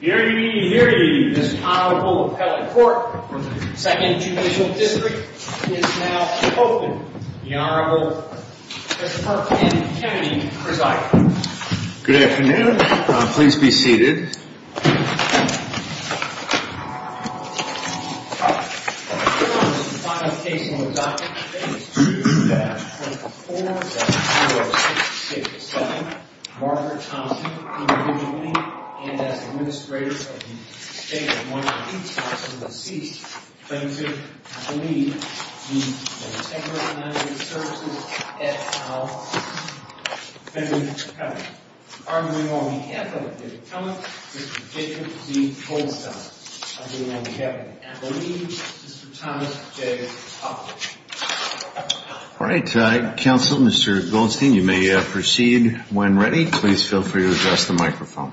Hear ye, hear ye, this Honorable Appellate Court for the 2nd Judicial District is now open. The Honorable Christopher N. Kennedy presides. Good afternoon. Please be seated. The final case on the docket today is 2-24-0667. Margaret Thompson, individual name, and as Administrator of the State of Washington, D.C. Thank you. I believe the Centegra Management Services, F.L. Benjamin Cunningham. Arguing on behalf of Mr. Cunningham, Mr. Jacob D. Goldstein. I'm doing what we have to do. I believe Mr. Thomas J. Hoffman. Alright, Counselor Mr. Goldstein, you may proceed when ready. Please feel free to address the microphone.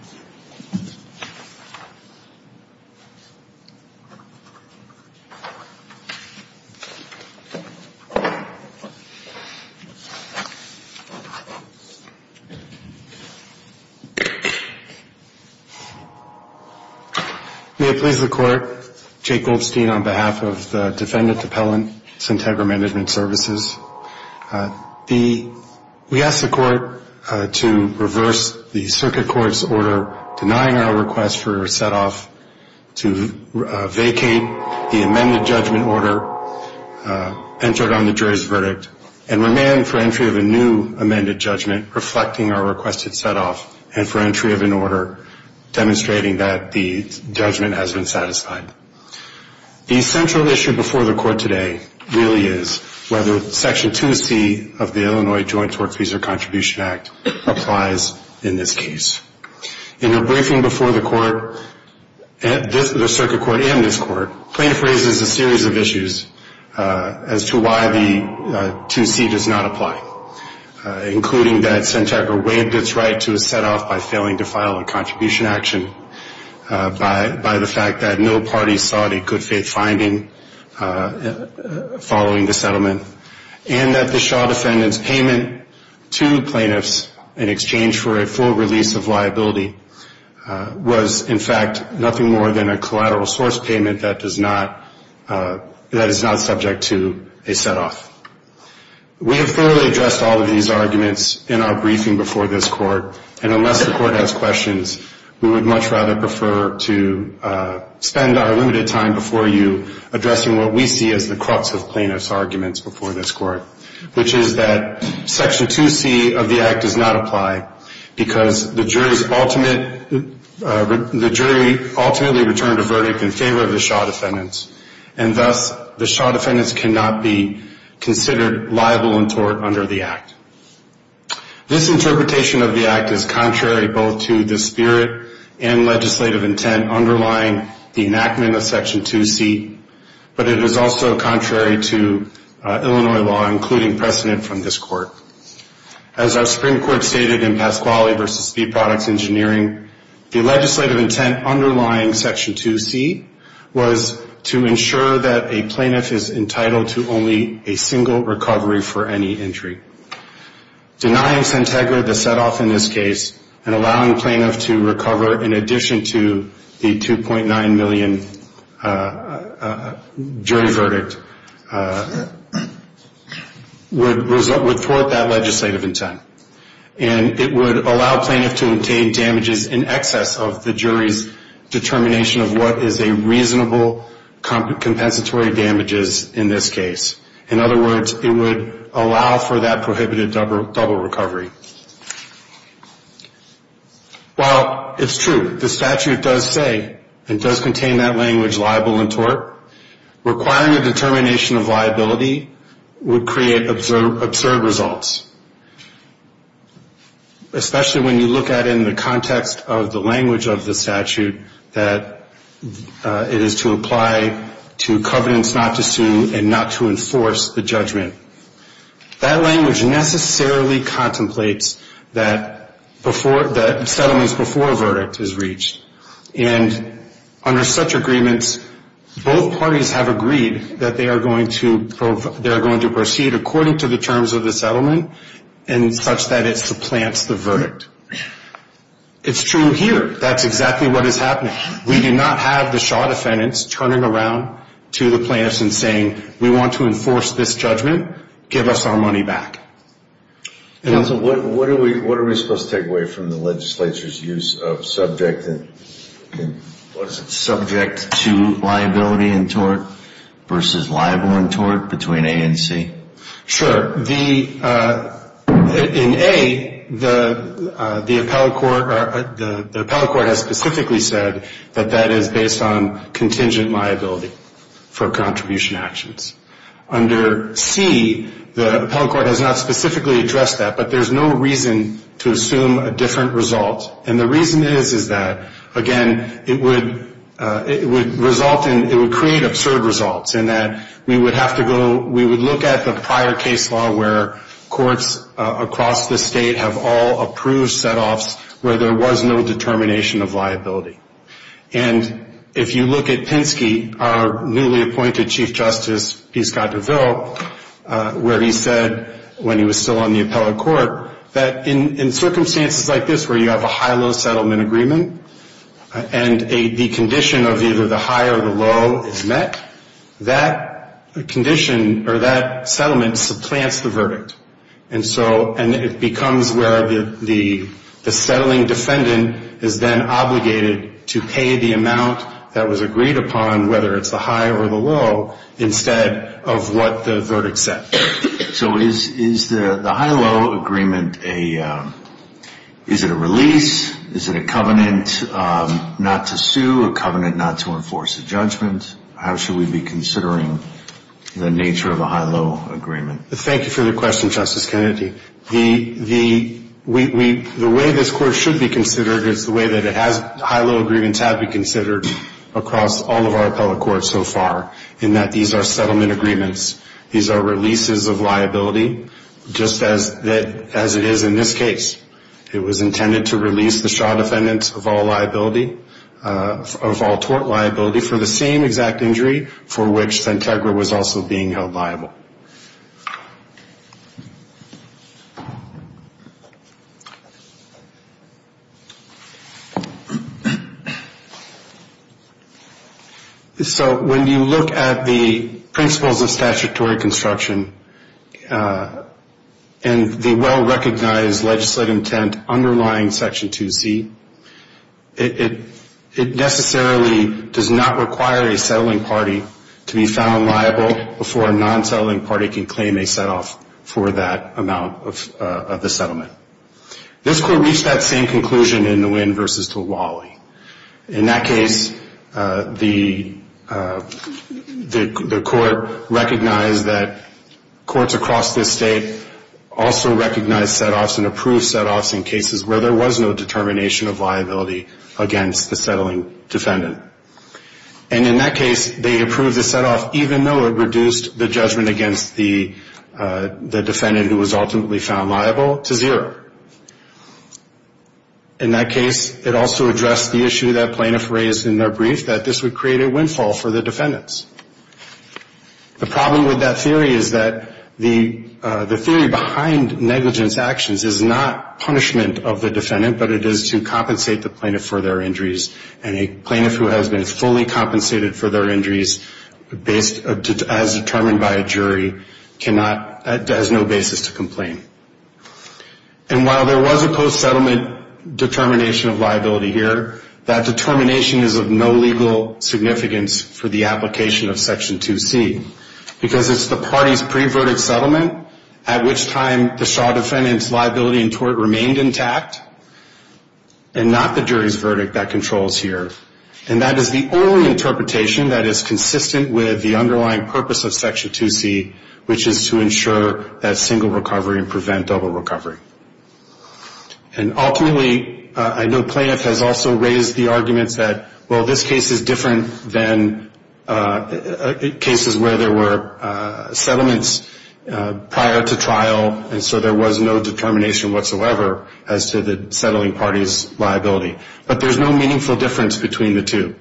May it please the Court. Jake Goldstein on behalf of the Defendant Appellant, Centegra Management Services. We ask the Court to reverse the Circuit Court's order denying our request for a set off to vacate the amended judgment order entered on the jury's verdict and remand for entry of a new amended judgment reflecting our requested set off and for entry of an order demonstrating that the judgment has been satisfied. The central issue before the Court today really is whether Section 2C of the Illinois Joint Tort Fees or Contribution Act applies in this case. In the briefing before the Court, the Circuit Court and this Court, plaintiff raises a series of issues as to why the 2C does not apply, including that Centegra waived its right to a set off by failing to file a contribution action, by the fact that no party sought a good faith finding following the settlement, and that the Shaw Defendant's payment to plaintiffs in exchange for a full release of liability was in fact nothing more than a collateral source payment that is not subject to a set off. We have thoroughly addressed all of these arguments in our briefing before this Court, and unless the Court has questions, we would much rather prefer to spend our limited time before you addressing what we see as the crux of plaintiff's arguments before this Court, which is that Section 2C of the Act does not apply, because the jury ultimately returned a verdict in favor of the Shaw Defendant, and thus the Shaw Defendant cannot be considered liable in tort under the Act. This interpretation of the Act is contrary both to the spirit and legislative intent underlying the enactment of Section 2C, but it is also contrary to Illinois law, including precedent from this Court. As our Supreme Court stated in Pasquale v. Speed Products Engineering, the legislative intent underlying Section 2C was to ensure that a plaintiff is entitled to only a single recovery for any injury. Denying Centegra the set off in this case, and allowing the plaintiff to recover in addition to the $2.9 million jury verdict, would thwart that legislative intent, and it would allow plaintiff to obtain damages in excess of the jury's determination of what is a reasonable compensatory damages in this case. In other words, it would allow for that prohibited double recovery. While it's true the statute does say and does contain that language liable in tort, requiring a determination of liability would create absurd results, especially when you look at it in the context of the language of the statute that it is to apply to covenants not to sue and not to enforce the judgment. That language necessarily contemplates that settlements before a verdict is reached, and under such agreements, both parties have agreed that they are going to proceed according to the terms of the settlement and such that it supplants the verdict. It's true here. That's exactly what is happening. We do not have the Shaw defendants turning around to the plaintiffs and saying, we want to enforce this judgment. Give us our money back. What are we supposed to take away from the legislature's use of subject to liability in tort versus liable in tort between A and C? Sure. In A, the appellate court has specifically said that that is based on contingent liability for contribution actions. Under C, the appellate court has not specifically addressed that, but there's no reason to assume a different result, and the reason is that, again, it would result in, it would create absurd results in that we would have to go, we would look at the prior case law where courts across the state have all approved setoffs where there was no determination of liability. And if you look at Pinsky, our newly appointed Chief Justice, P. Scott DeVille, where he said when he was still on the appellate court that in circumstances like this where you have a high-low settlement agreement and the condition of either the high or the low is met, that condition or that settlement supplants the verdict. And it becomes where the settling defendant is then obligated to pay the amount that was agreed upon, whether it's the high or the low, instead of what the verdict said. So is the high-low agreement, is it a release? Is it a covenant not to sue, a covenant not to enforce a judgment? How should we be considering the nature of a high-low agreement? Thank you for the question, Justice Kennedy. The way this court should be considered is the way that high-low agreements have been considered across all of our appellate courts so far, in that these are settlement agreements. These are releases of liability, just as it is in this case. It was intended to release the shaw defendants of all liability, of all tort liability, for the same exact injury for which Santegra was also being held liable. So when you look at the principles of statutory construction and the well-recognized legislative intent underlying Section 2C, it necessarily does not require a settling party to be found liable before a non-settling party can claim a set-off for that amount of the settlement. This court reached that same conclusion in Nguyen v. Diwali. In that case, the court recognized that courts across this state also recognized set-offs and approved set-offs in cases where there was no determination of liability against the settling defendant. And in that case, they approved the set-off even though it reduced the judgment against the defendant who was ultimately found liable to zero. In that case, it also addressed the issue that plaintiff raised in their brief, that this would create a windfall for the defendants. The problem with that theory is that the theory behind negligence actions is not punishment of the defendant, but it is to compensate the plaintiff for their injuries. And a plaintiff who has been fully compensated for their injuries as determined by a jury cannot, has no basis to complain. And while there was a post-settlement determination of liability here, that determination is of no legal significance for the application of Section 2C because it's the party's pre-verdict settlement at which time the shaw defendant's liability remained intact and not the jury's verdict that controls here. And that is the only interpretation that is consistent with the underlying purpose of Section 2C, which is to ensure that single recovery and prevent double recovery. And ultimately, I know plaintiff has also raised the arguments that, well, this case is different than cases where there were settlements prior to trial, and so there was no determination whatsoever as to the settling party's liability. But there's no meaningful difference between the two.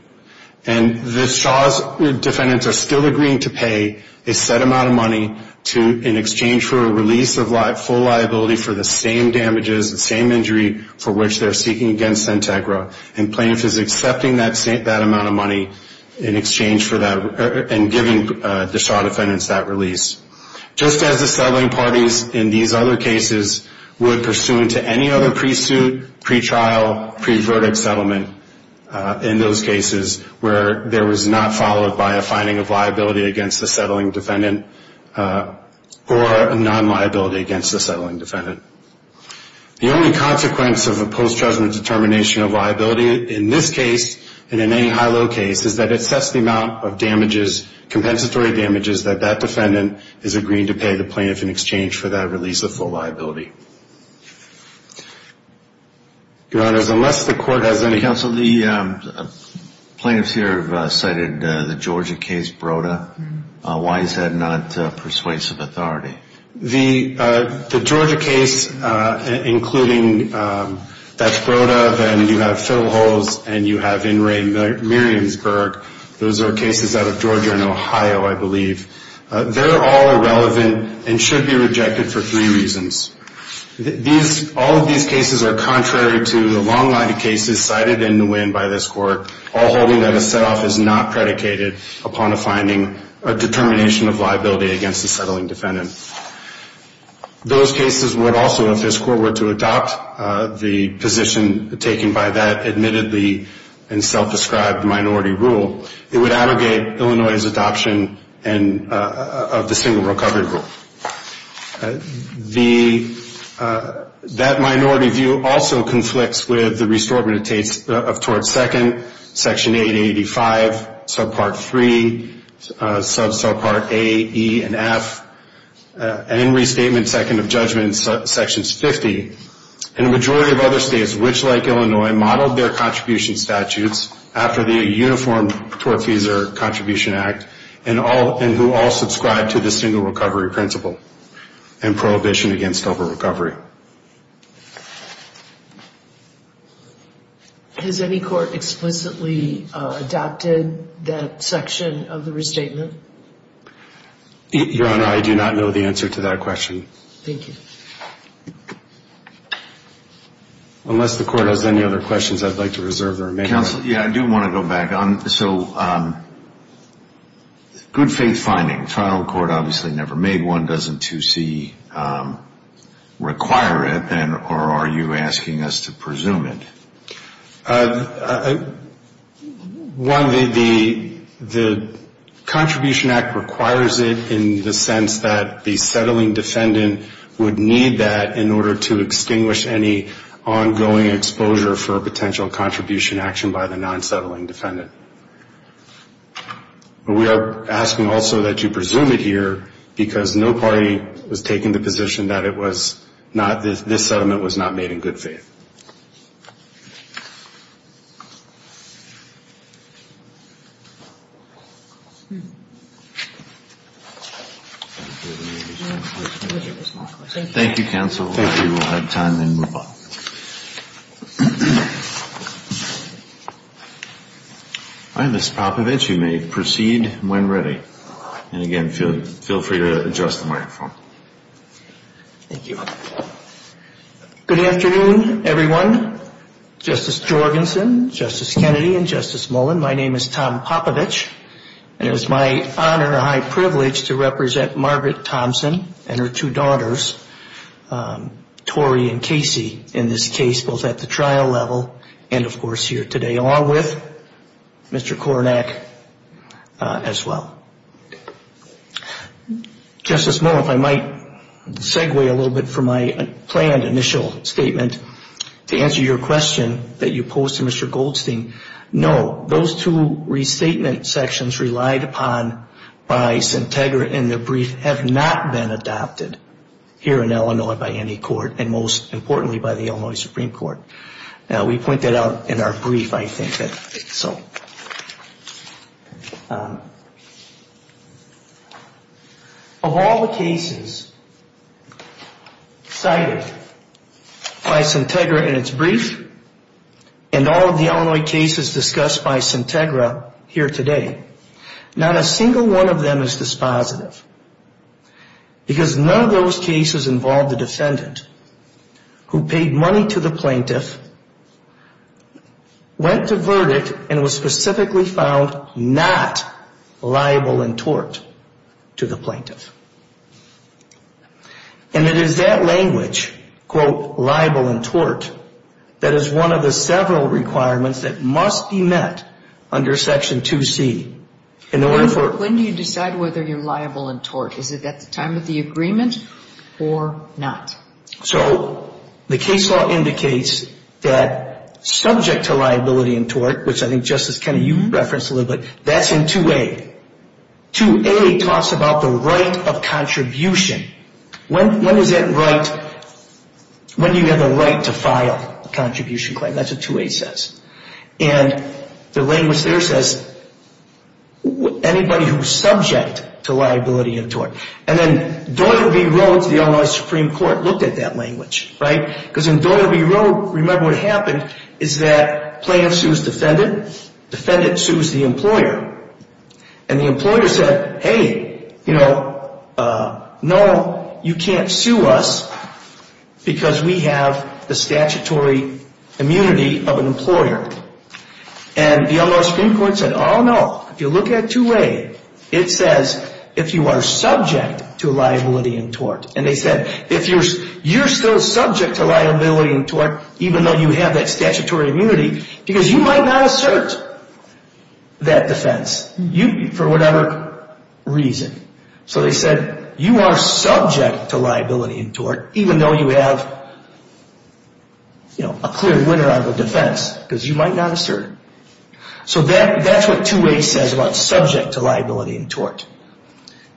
And the shaw's defendants are still agreeing to pay a set amount of money in exchange for a release of full liability for the same damages, the same injury for which they're seeking against Sentegra. And plaintiff is accepting that amount of money in exchange for that and giving the shaw defendants that release. Just as the settling parties in these other cases would pursue into any other pre-suit, pre-trial, pre-verdict settlement in those cases where there was not followed by a finding of liability against the settling defendant or a non-liability against the settling defendant. The only consequence of a post-judgment determination of liability in this case and in any high-low case is that it sets the amount of damages, compensatory damages that that defendant is agreeing to pay the plaintiff in exchange for that release of full liability. Your Honors, unless the court has any... Counsel, the plaintiffs here have cited the Georgia case, Broda. Why is that not persuasive authority? The Georgia case, including that's Broda, then you have Fiddle Halls, and you have In Re Miriamsburg. Those are cases out of Georgia and Ohio, I believe. They're all irrelevant and should be rejected for three reasons. All of these cases are contrary to the long line of cases cited in Nguyen by this court, all holding that a set-off is not predicated upon a finding or determination of liability against the settling defendant. Those cases would also, if this court were to adopt the position taken by that admittedly and self-described minority rule, it would abrogate Illinois' adoption of the single recovery rule. That minority view also conflicts with the Restorement of Tort Second, Section 885, Subpart 3, Subpart A, E, and F. And in Restatement Second of Judgment, Section 50, and a majority of other states which, like Illinois, modeled their contribution statutes after the Uniform Tort Fees or Contribution Act and who all subscribe to the single recovery principle and prohibition against over-recovery. Has any court explicitly adopted that section of the Restatement? Your Honor, I do not know the answer to that question. Thank you. Unless the court has any other questions, I'd like to reserve the remaining time. Counsel, yeah, I do want to go back on. So good faith finding. Final court obviously never made one. Doesn't 2C require it, or are you asking us to presume it? One, the Contribution Act requires it in the sense that the settling defendant would need that in order to extinguish any ongoing exposure for potential contribution action by the non-settling defendant. But we are asking also that you presume it here because no party was taking the position that it was not, this settlement was not made in good faith. Thank you, counsel. We will have time and move on. Ms. Popovich, you may proceed when ready. And again, feel free to adjust the microphone. Thank you. Good afternoon, everyone. Justice Jorgensen, Justice Kennedy, and Justice Mullen, my name is Tom Popovich, and it is my honor and high privilege to represent Margaret Thompson and her two daughters, Tori and Casey, in this case, both at the trial level and, of course, here today, along with Mr. Kornack as well. Justice Mullen, if I might segue a little bit from my planned initial statement to answer your question that you posed to Mr. Goldstein, no, those two restatement sections relied upon by Sintegra in the brief have not been adopted here in Illinois by any court, and most importantly by the Illinois Supreme Court. We point that out in our brief, I think. Of all the cases cited by Sintegra in its brief and all of the Illinois cases discussed by Sintegra here today, not a single one of them is dispositive because none of those cases involved the defendant who paid money to the plaintiff, went to verdict, and was specifically found not liable in tort to the plaintiff. And it is that language, quote, liable in tort, that is one of the several requirements that must be met under Section 2C. When do you decide whether you're liable in tort? Is it at the time of the agreement or not? So the case law indicates that subject to liability in tort, which I think Justice Kennedy, you referenced a little bit, that's in 2A. 2A talks about the right of contribution. When is that right? When do you have the right to file a contribution claim? That's what 2A says. And the language there says anybody who's subject to liability in tort. And then Doyle v. Rhodes, the Illinois Supreme Court, looked at that language, right? Because in Doyle v. Rhodes, remember what happened is that plaintiff sues defendant, defendant sues the employer. And the employer said, hey, you know, no, you can't sue us because we have the statutory immunity of an employer. And the Illinois Supreme Court said, oh, no, if you look at 2A, it says if you are subject to liability in tort. And they said if you're still subject to liability in tort, even though you have that statutory immunity, because you might not assert that defense for whatever reason. So they said you are subject to liability in tort, even though you have, you know, a clear winner on the defense, because you might not assert it. So that's what 2A says about subject to liability in tort.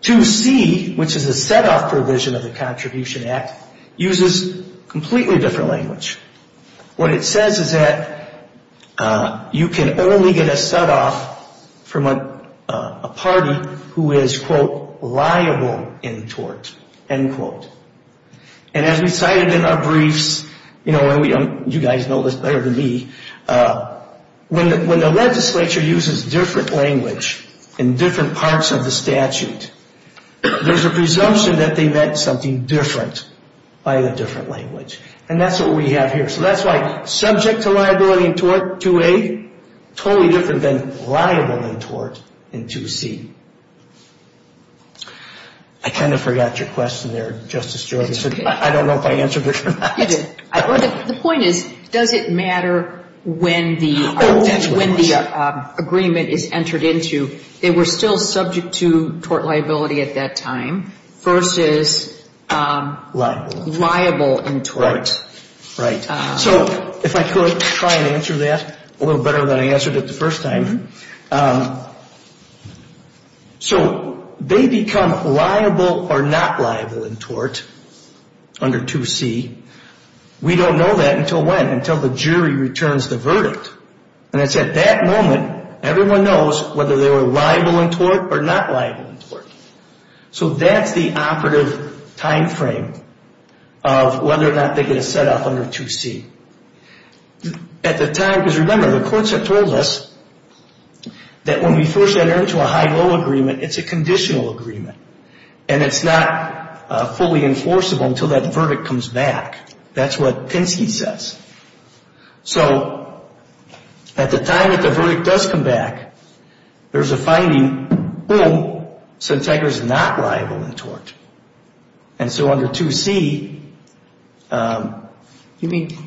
2C, which is a set-off provision of the Contribution Act, uses completely different language. What it says is that you can only get a set-off from a party who is, quote, liable in tort, end quote. And as we cited in our briefs, you know, you guys know this better than me, when the legislature uses different language in different parts of the statute, there's a presumption that they meant something different by a different language. And that's what we have here. So that's why subject to liability in tort, 2A, totally different than liable in tort in 2C. I kind of forgot your question there, Justice Jorgenson. I don't know if I answered it or not. The point is, does it matter when the agreement is entered into? They were still subject to tort liability at that time, versus liable in tort. Right. So if I could try and answer that a little better than I answered it the first time. So they become liable or not liable in tort under 2C. We don't know that until when, until the jury returns the verdict. And it's at that moment, everyone knows whether they were liable in tort or not liable in tort. So that's the operative timeframe of whether or not they get a setup under 2C. At the time, because remember, the courts have told us that when we first enter into a high-low agreement, it's a conditional agreement. And it's not fully enforceable until that verdict comes back. That's what Pinsky says. So at the time that the verdict does come back, there's a finding, boom, Sintegra's not liable in tort. And so under 2C, You mean?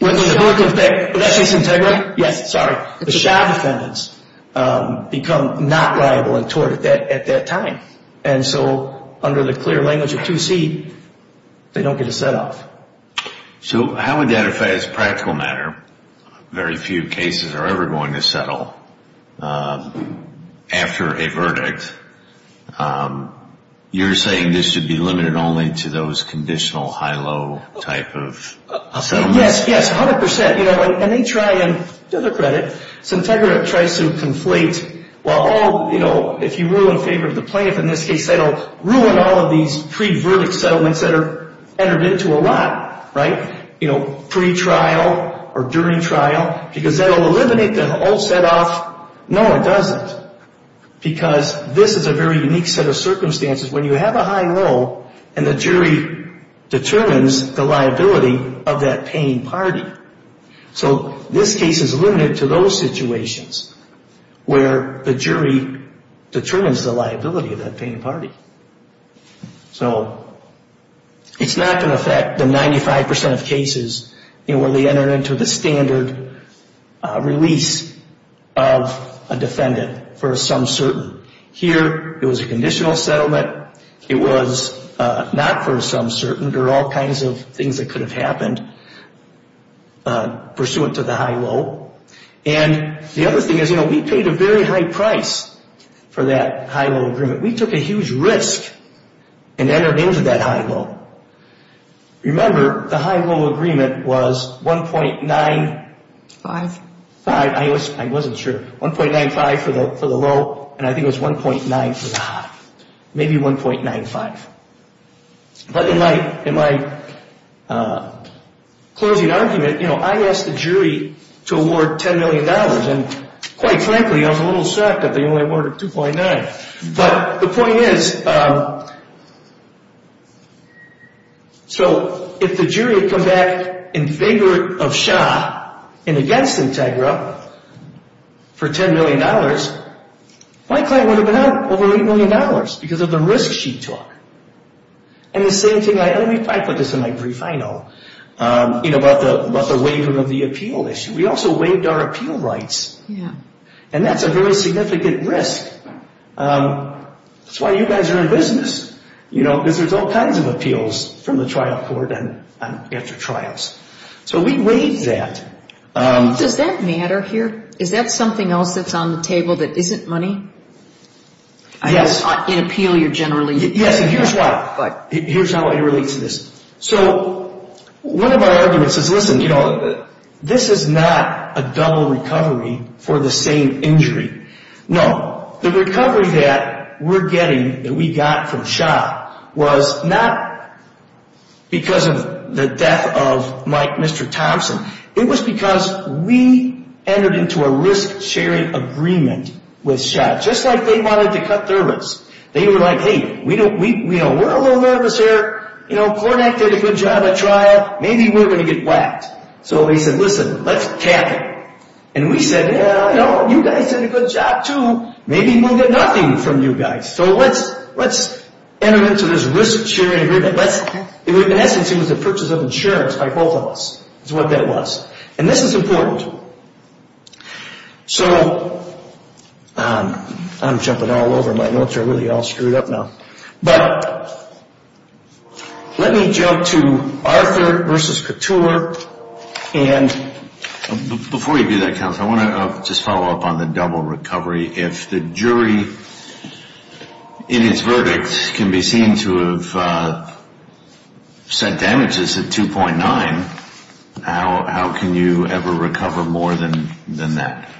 Would that say Sintegra? Yes, sorry. The Shah defendants become not liable in tort at that time. And so under the clear language of 2C, they don't get a set-off. So how would that affect, as a practical matter, very few cases are ever going to settle after a verdict? You're saying this should be limited only to those conditional high-low type of settlements? Yes, yes, 100%. And they try and, to their credit, Sintegra tries to conflate, well, if you rule in favor of the plaintiff in this case, that'll ruin all of these pre-verdict settlements that are entered into a lot, right? You know, pre-trial or during trial. Because that'll eliminate the whole set-off. No, it doesn't. Because this is a very unique set of circumstances when you have a high-low and the jury determines the liability of that paying party. So this case is limited to those situations where the jury determines the liability of that paying party. So it's not going to affect the 95% of cases where they enter into the standard release of a defendant for a sum certain. Here, it was a conditional settlement. It was not for a sum certain. There are all kinds of things that could have happened pursuant to the high-low. And the other thing is, you know, we paid a very high price for that high-low agreement. We took a huge risk and entered into that high-low. Remember, the high-low agreement was 1.95. I wasn't sure. 1.95 for the low, and I think it was 1.9 for the high. Maybe 1.95. But in my closing argument, you know, I asked the jury to award $10 million. And quite frankly, I was a little shocked that they only awarded 2.9. But the point is, so if the jury had come back in favor of Shah and against Integra for $10 million, my client would have been out over $8 million because of the risk she took. And the same thing, and I put this in my brief, I know, you know, about the waiver of the appeal issue. We also waived our appeal rights, and that's a very significant risk. That's why you guys are in business, you know, because there's all kinds of appeals from the trial court and after trials. So we waived that. Does that matter here? Is that something else that's on the table that isn't money? Yes. In appeal you're generally. Yes, and here's why. Here's how I relate to this. So one of our arguments is, listen, you know, this is not a double recovery for the same injury. No. The recovery that we're getting, that we got from Shah, was not because of the death of Mike, Mr. Thompson. It was because we entered into a risk-sharing agreement with Shah, just like they wanted to cut their risk. They were like, hey, we're a little nervous here. You know, Kornak did a good job at trial. Maybe we're going to get whacked. So he said, listen, let's cap it. And we said, you guys did a good job too. Maybe we'll get nothing from you guys. So let's enter into this risk-sharing agreement. In essence, it was a purchase of insurance by both of us, is what that was. And this is important. So I'm jumping all over. My notes are really all screwed up now. But let me jump to Arthur versus Couture. And before you do that, counsel, I want to just follow up on the double recovery. If the jury in its verdict can be seen to have set damages at 2.9, how can you ever recover more than that?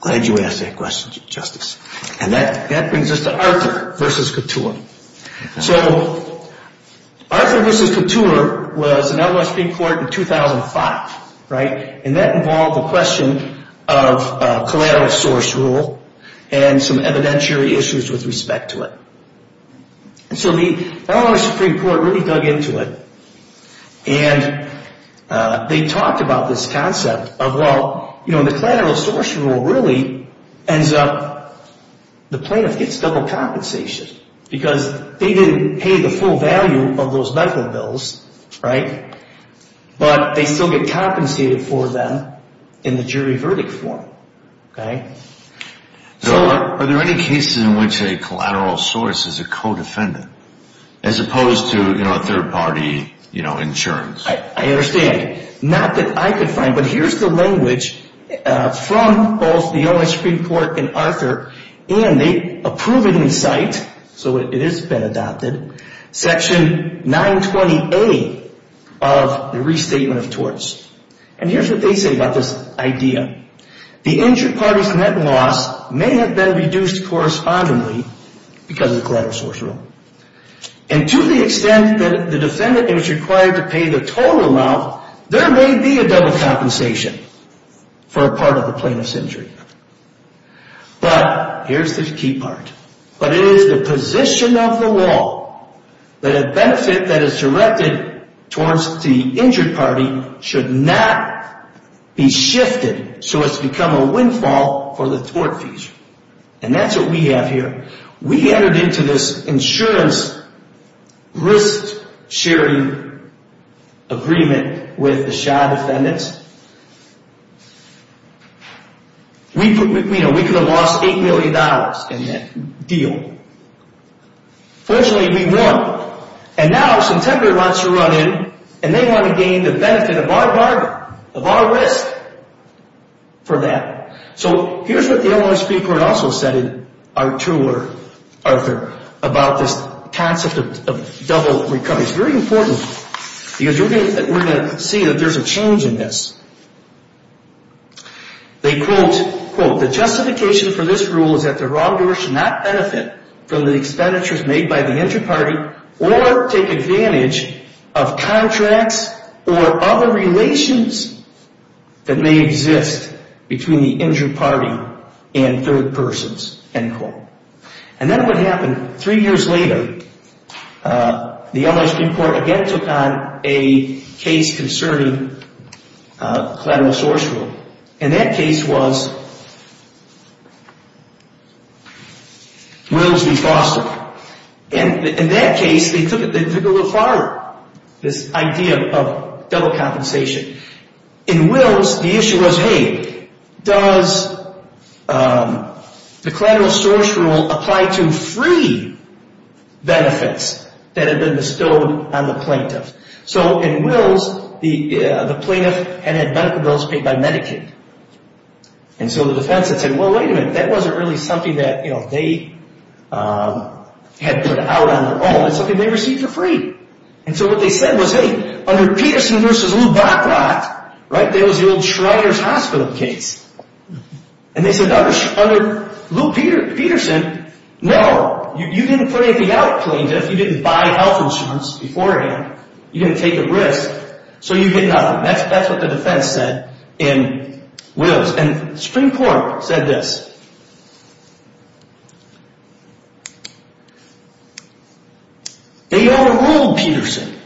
Glad you asked that question, Justice. And that brings us to Arthur versus Couture. So Arthur versus Couture was an LSB court in 2005, right? And that involved the question of collateral source rule and some evidentiary issues with respect to it. And so the Illinois Supreme Court really dug into it. And they talked about this concept of, well, you know, the collateral source rule really ends up the plaintiff gets double compensation because they didn't pay the full value of those medical bills, right? But they still get compensated for them in the jury verdict form, okay? So are there any cases in which a collateral source is a co-defendant as opposed to, you know, a third-party, you know, insurance? I understand. Not that I could find, but here's the language from both the Illinois Supreme Court and they approve it in sight, so it has been adopted, Section 920A of the Restatement of Torts. And here's what they say about this idea. The injured party's net loss may have been reduced correspondingly because of the collateral source rule. And to the extent that the defendant is required to pay the total amount, there may be a double compensation for a part of the plaintiff's injury. But here's the key part. But it is the position of the law that a benefit that is directed towards the injured party should not be shifted so it's become a windfall for the tort fees. And that's what we have here. We entered into this insurance risk-sharing agreement with the Shaw defendants. We could have lost $8 million in that deal. Fortunately, we won. And now, September wants to run in and they want to gain the benefit of our risk for that. So here's what the Illinois Supreme Court also said in our tour, Arthur, about this concept of double recovery. It's very important because we're going to see that there's a change in this. They quote, quote, The justification for this rule is that the wrongdoer should not benefit from the expenditures made by the injured party or take advantage of contracts or other relations that may exist between the injured party and third persons, end quote. And then what happened three years later, the Illinois Supreme Court again took on a case concerning collateral source rule. And that case was Wills v. Foster. And in that case, they took it a little farther, this idea of double compensation. In Wills, the issue was, hey, does the collateral source rule apply to free benefits that have been bestowed on the plaintiff? So in Wills, the plaintiff had had medical bills paid by Medicaid. And so the defense had said, well, wait a minute, that wasn't really something that they had put out on their own. It's something they received for free. And so what they said was, hey, under Peterson v. Lou Botrott, that was the old Shriner's Hospital case. And they said, under Lou Peterson, no. You didn't put anything out, plaintiff. You didn't buy health insurance beforehand. You didn't take a risk. So you get nothing. That's what the defense said in Wills. And Supreme Court said this. They overruled Peterson.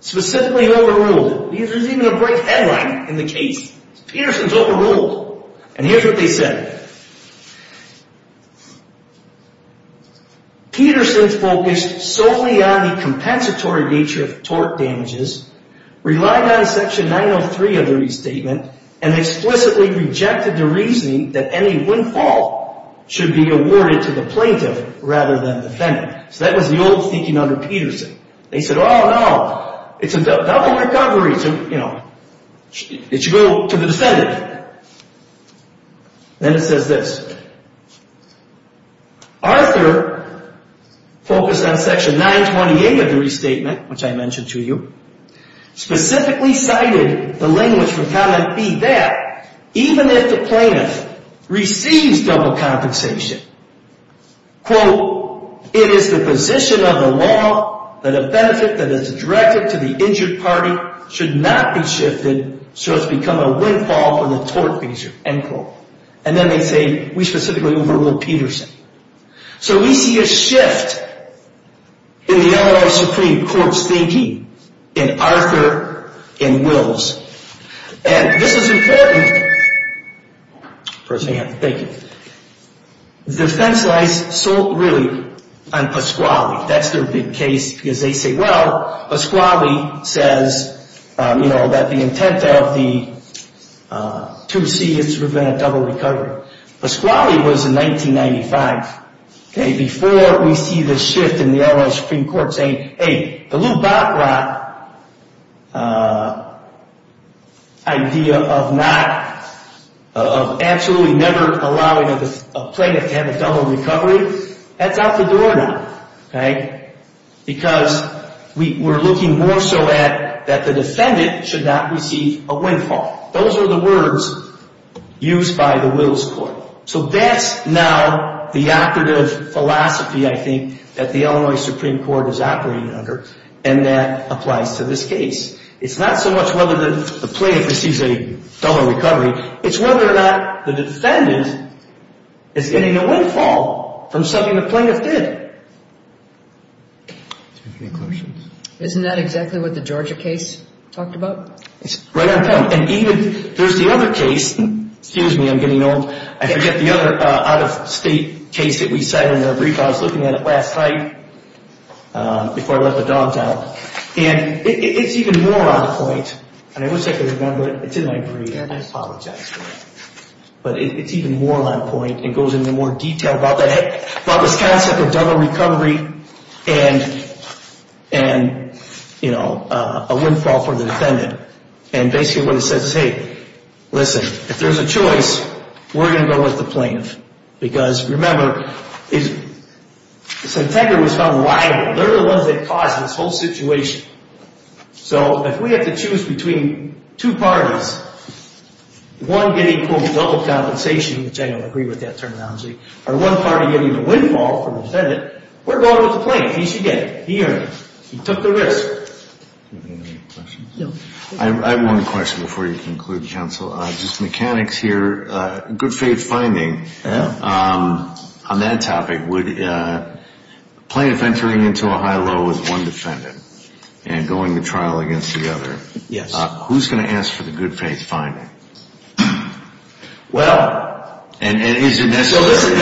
Specifically overruled. There's even a bright headline in the case. Peterson's overruled. And here's what they said. Peterson's focused solely on the compensatory nature of tort damages, relied on Section 903 of the restatement, and explicitly rejected the reasoning that any windfall should be awarded to the plaintiff rather than defendant. So that was the old thinking under Peterson. They said, oh, no, it's a double recovery. It should go to the defendant. Then it says this. Arthur focused on Section 928 of the restatement, which I mentioned to you, specifically cited the language from comment B, that even if the plaintiff receives double compensation, quote, it is the position of the law that a benefit that is directed to the injured party should not be shifted so it's become a windfall for the tort measure, end quote. And then they say we specifically overruled Peterson. So we see a shift in the L.A. Supreme Court's thinking in Arthur and Wills. And this is important. Thank you. Defense lies solely on Pasquale. That's their big case because they say, well, Pasquale says, you know, that the intent of the 2C is to prevent a double recovery. Pasquale was in 1995, okay, before we see the shift in the L.A. Supreme Court saying, hey, the Lou Baccarat idea of not, of absolutely never allowing a plaintiff to have a double recovery, that's out the door now, okay, because we're looking more so at that the defendant should not receive a windfall. Those are the words used by the Wills Court. So that's now the operative philosophy, I think, that the L.A. Supreme Court is operating under and that applies to this case. It's not so much whether the plaintiff receives a double recovery, it's whether or not the defendant is getting a windfall from something the plaintiff did. Any questions? Isn't that exactly what the Georgia case talked about? It's right on point. And even, there's the other case, excuse me, I'm getting old, I forget the other out-of-state case that we cited in the brief, I was looking at it last night before I let the dogs out, and it's even more on point, and I wish I could remember it, it's in my brief, and I apologize for it, but it's even more on point and goes into more detail about that, about this concept of double recovery and, you know, a windfall from the defendant. And basically what it says is, hey, listen, if there's a choice, we're going to go with the plaintiff. Because, remember, Centegra was found liable. They're the ones that caused this whole situation. So if we have to choose between two parties, one getting, quote, double compensation, which I don't agree with that terminology, or one party getting the windfall from the defendant, we're going with the plaintiff. He should get it. He took the risk. Do you have any other questions? No. I have one question before you conclude, counsel. Just mechanics here, good faith finding. Yeah. On that topic, would plaintiff entering into a high-low with one defendant and going to trial against the other. Yes. Who's going to ask for the good faith finding? Well. And is it necessary?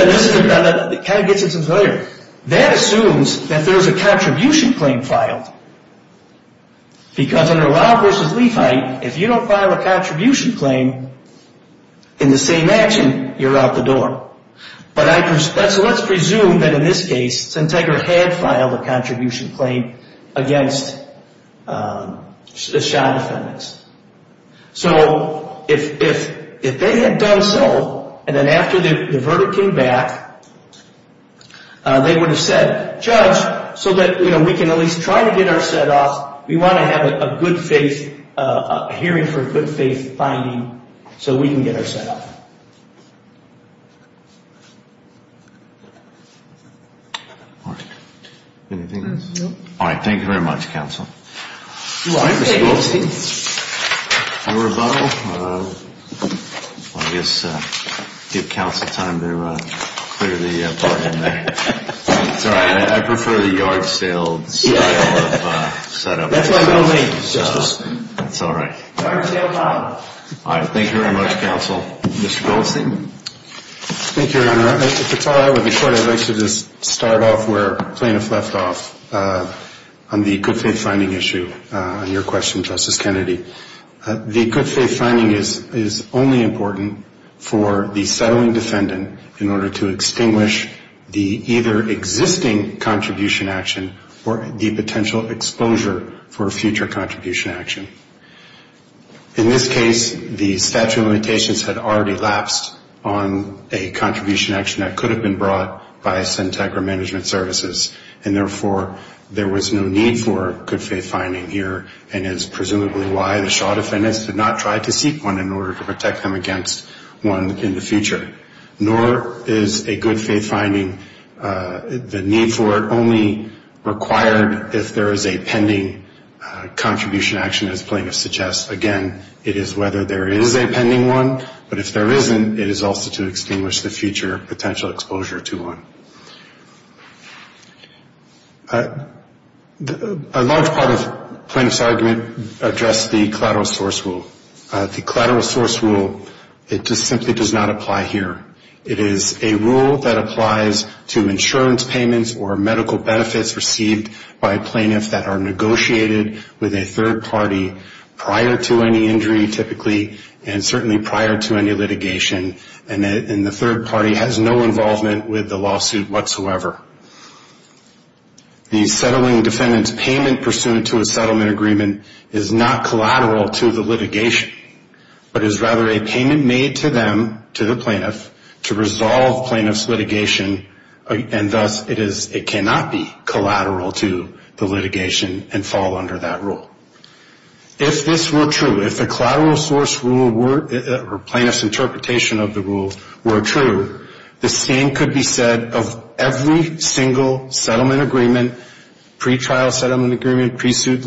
It kind of gets at something earlier. That assumes that there's a contribution claim filed. Because under Lau versus Lefite, if you don't file a contribution claim in the same action, you're out the door. But let's presume that in this case, Centegra had filed a contribution claim against the shot defendants. So if they had done so, and then after the verdict came back, they would have said, judge, so that we can at least try to get our set off. We want to have a good faith, a hearing for good faith finding, so we can get our set off. Anything else? No. All right. Thank you very much, counsel. All right, Mr. Goldstein. Your rebuttal? I guess give counsel time to clear the part in there. Sorry. I prefer the yard sale style of set up. That's all right. All right. Thank you very much, counsel. Mr. Goldstein. Thank you, Your Honor. If it's all right with the court, I'd like to just start off where plaintiff left off on the good faith finding issue. On your question, Justice Kennedy, the good faith finding is only important for the settling defendant in order to extinguish the either existing contribution action or the potential exposure for a future contribution action. In this case, the statute of limitations had already lapsed on a contribution action that could have been brought by CENTC or management services, and therefore there was no need for good faith finding here, and is presumably why the shod defendants did not try to seek one in order to protect them against one in the future. Nor is a good faith finding, the need for it, only required if there is a pending contribution action, as plaintiff suggests. Again, it is whether there is a pending one, but if there isn't, it is also to extinguish the future potential exposure to one. A large part of plaintiff's argument addressed the collateral source rule. The collateral source rule, it just simply does not apply here. It is a rule that applies to insurance payments or medical benefits received by plaintiffs that are negotiated with a third party prior to any injury typically, and certainly prior to any litigation, and the third party has no involvement with the lawsuit whatsoever. The settling defendant's payment pursuant to a settlement agreement is not collateral to the litigation, but is rather a payment made to them, to the plaintiff, to resolve plaintiff's litigation, and thus it cannot be collateral to the litigation and fall under that rule. If this were true, if the collateral source rule or plaintiff's interpretation of the rule were true, the same could be said of every single settlement agreement, pre-trial settlement agreement, pre-suit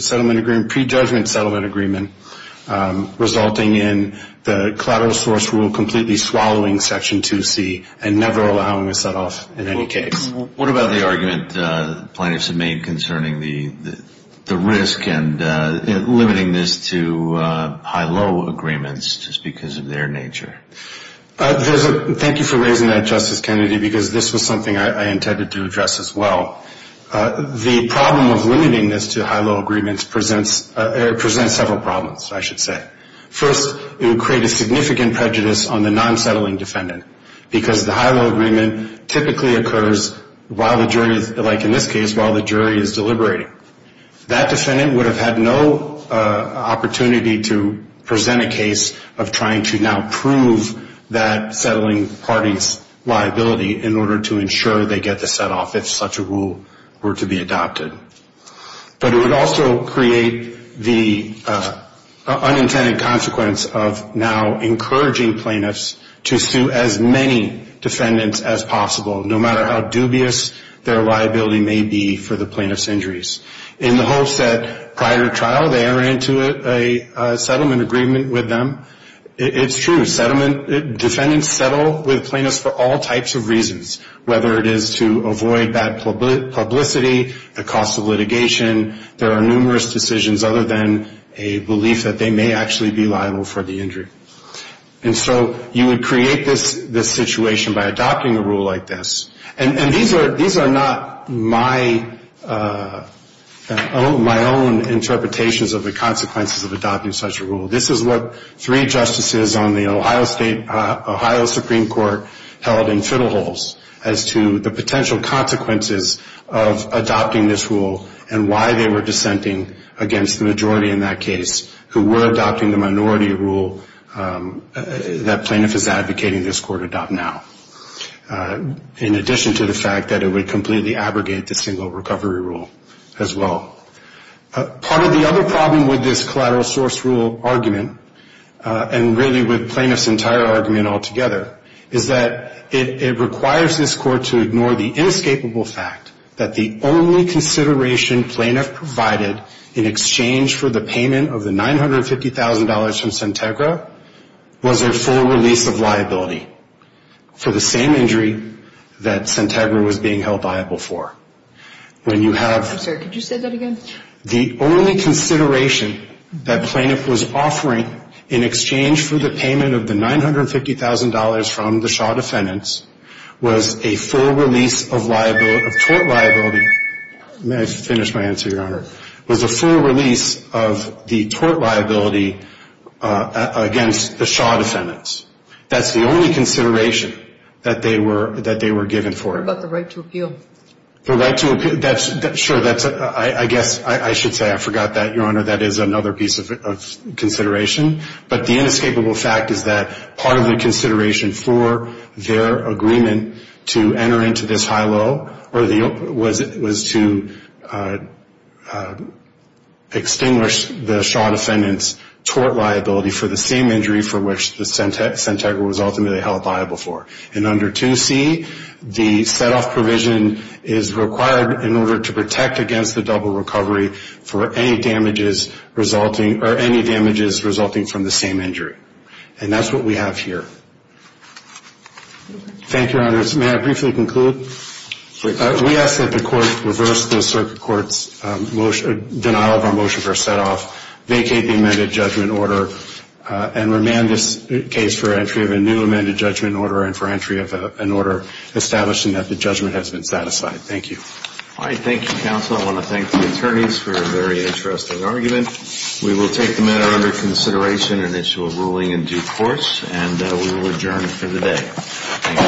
settlement agreement, pre-judgment settlement agreement, resulting in the collateral source rule completely swallowing Section 2C and never allowing a set-off in any case. What about the argument plaintiffs have made concerning the risk and limiting this to high-low agreements just because of their nature? Thank you for raising that, Justice Kennedy, because this was something I intended to address as well. The problem of limiting this to high-low agreements presents several problems, I should say. First, it would create a significant prejudice on the non-settling defendant because the high-low agreement typically occurs while the jury is, like in this case, while the jury is deliberating. That defendant would have had no opportunity to present a case of trying to now prove that settling party's liability in order to ensure they get the set-off if such a rule were to be adopted. But it would also create the unintended consequence of now encouraging plaintiffs to sue as many defendants as possible, no matter how dubious their liability may be for the plaintiff's injuries. In the hopes that prior to trial they are into a settlement agreement with them. It's true, defendants settle with plaintiffs for all types of reasons, whether it is to avoid bad publicity, the cost of litigation. There are numerous decisions other than a belief that they may actually be liable for the injury. And so you would create this situation by adopting a rule like this. And these are not my own interpretations of the consequences of adopting such a rule. This is what three justices on the Ohio State, Ohio Supreme Court held in fiddle holes as to the potential consequences of adopting this rule and why they were dissenting against the majority in that case who were adopting the minority rule that plaintiff is advocating this court adopt now. In addition to the fact that it would completely abrogate the single recovery rule as well. Part of the other problem with this collateral source rule argument and really with plaintiff's entire argument altogether is that it requires this court to ignore the inescapable fact that the only consideration plaintiff provided in exchange for the payment of the $950,000 from Santegra was a full release of liability for the same injury that Santegra was being held liable for. When you have the only consideration that plaintiff was offering in exchange for the payment of the $950,000 from the Shaw defendants was a full release of liability, of tort liability. May I finish my answer, Your Honor? Was a full release of the tort liability against the Shaw defendants. That's the only consideration that they were given for it. What about the right to appeal? The right to appeal, sure, I guess I should say I forgot that, Your Honor. That is another piece of consideration. But the inescapable fact is that part of the consideration for their agreement to enter into this high-low was to extinguish the Shaw defendants' tort liability for the same injury for which the Santegra was ultimately held liable for. And under 2C, the set-off provision is required in order to protect against the double recovery for any damages resulting from the same injury. And that's what we have here. Thank you, Your Honor. May I briefly conclude? We ask that the Court reverse the Circuit Court's denial of our motion for set-off, vacate the amended judgment order, and remand this case for entry of a new amended judgment order and for entry of an order establishing that the judgment has been satisfied. Thank you. All right. Thank you, Counsel. I want to thank the attorneys for a very interesting argument. We will take the matter under consideration and issue a ruling in due course. And we will adjourn for the day.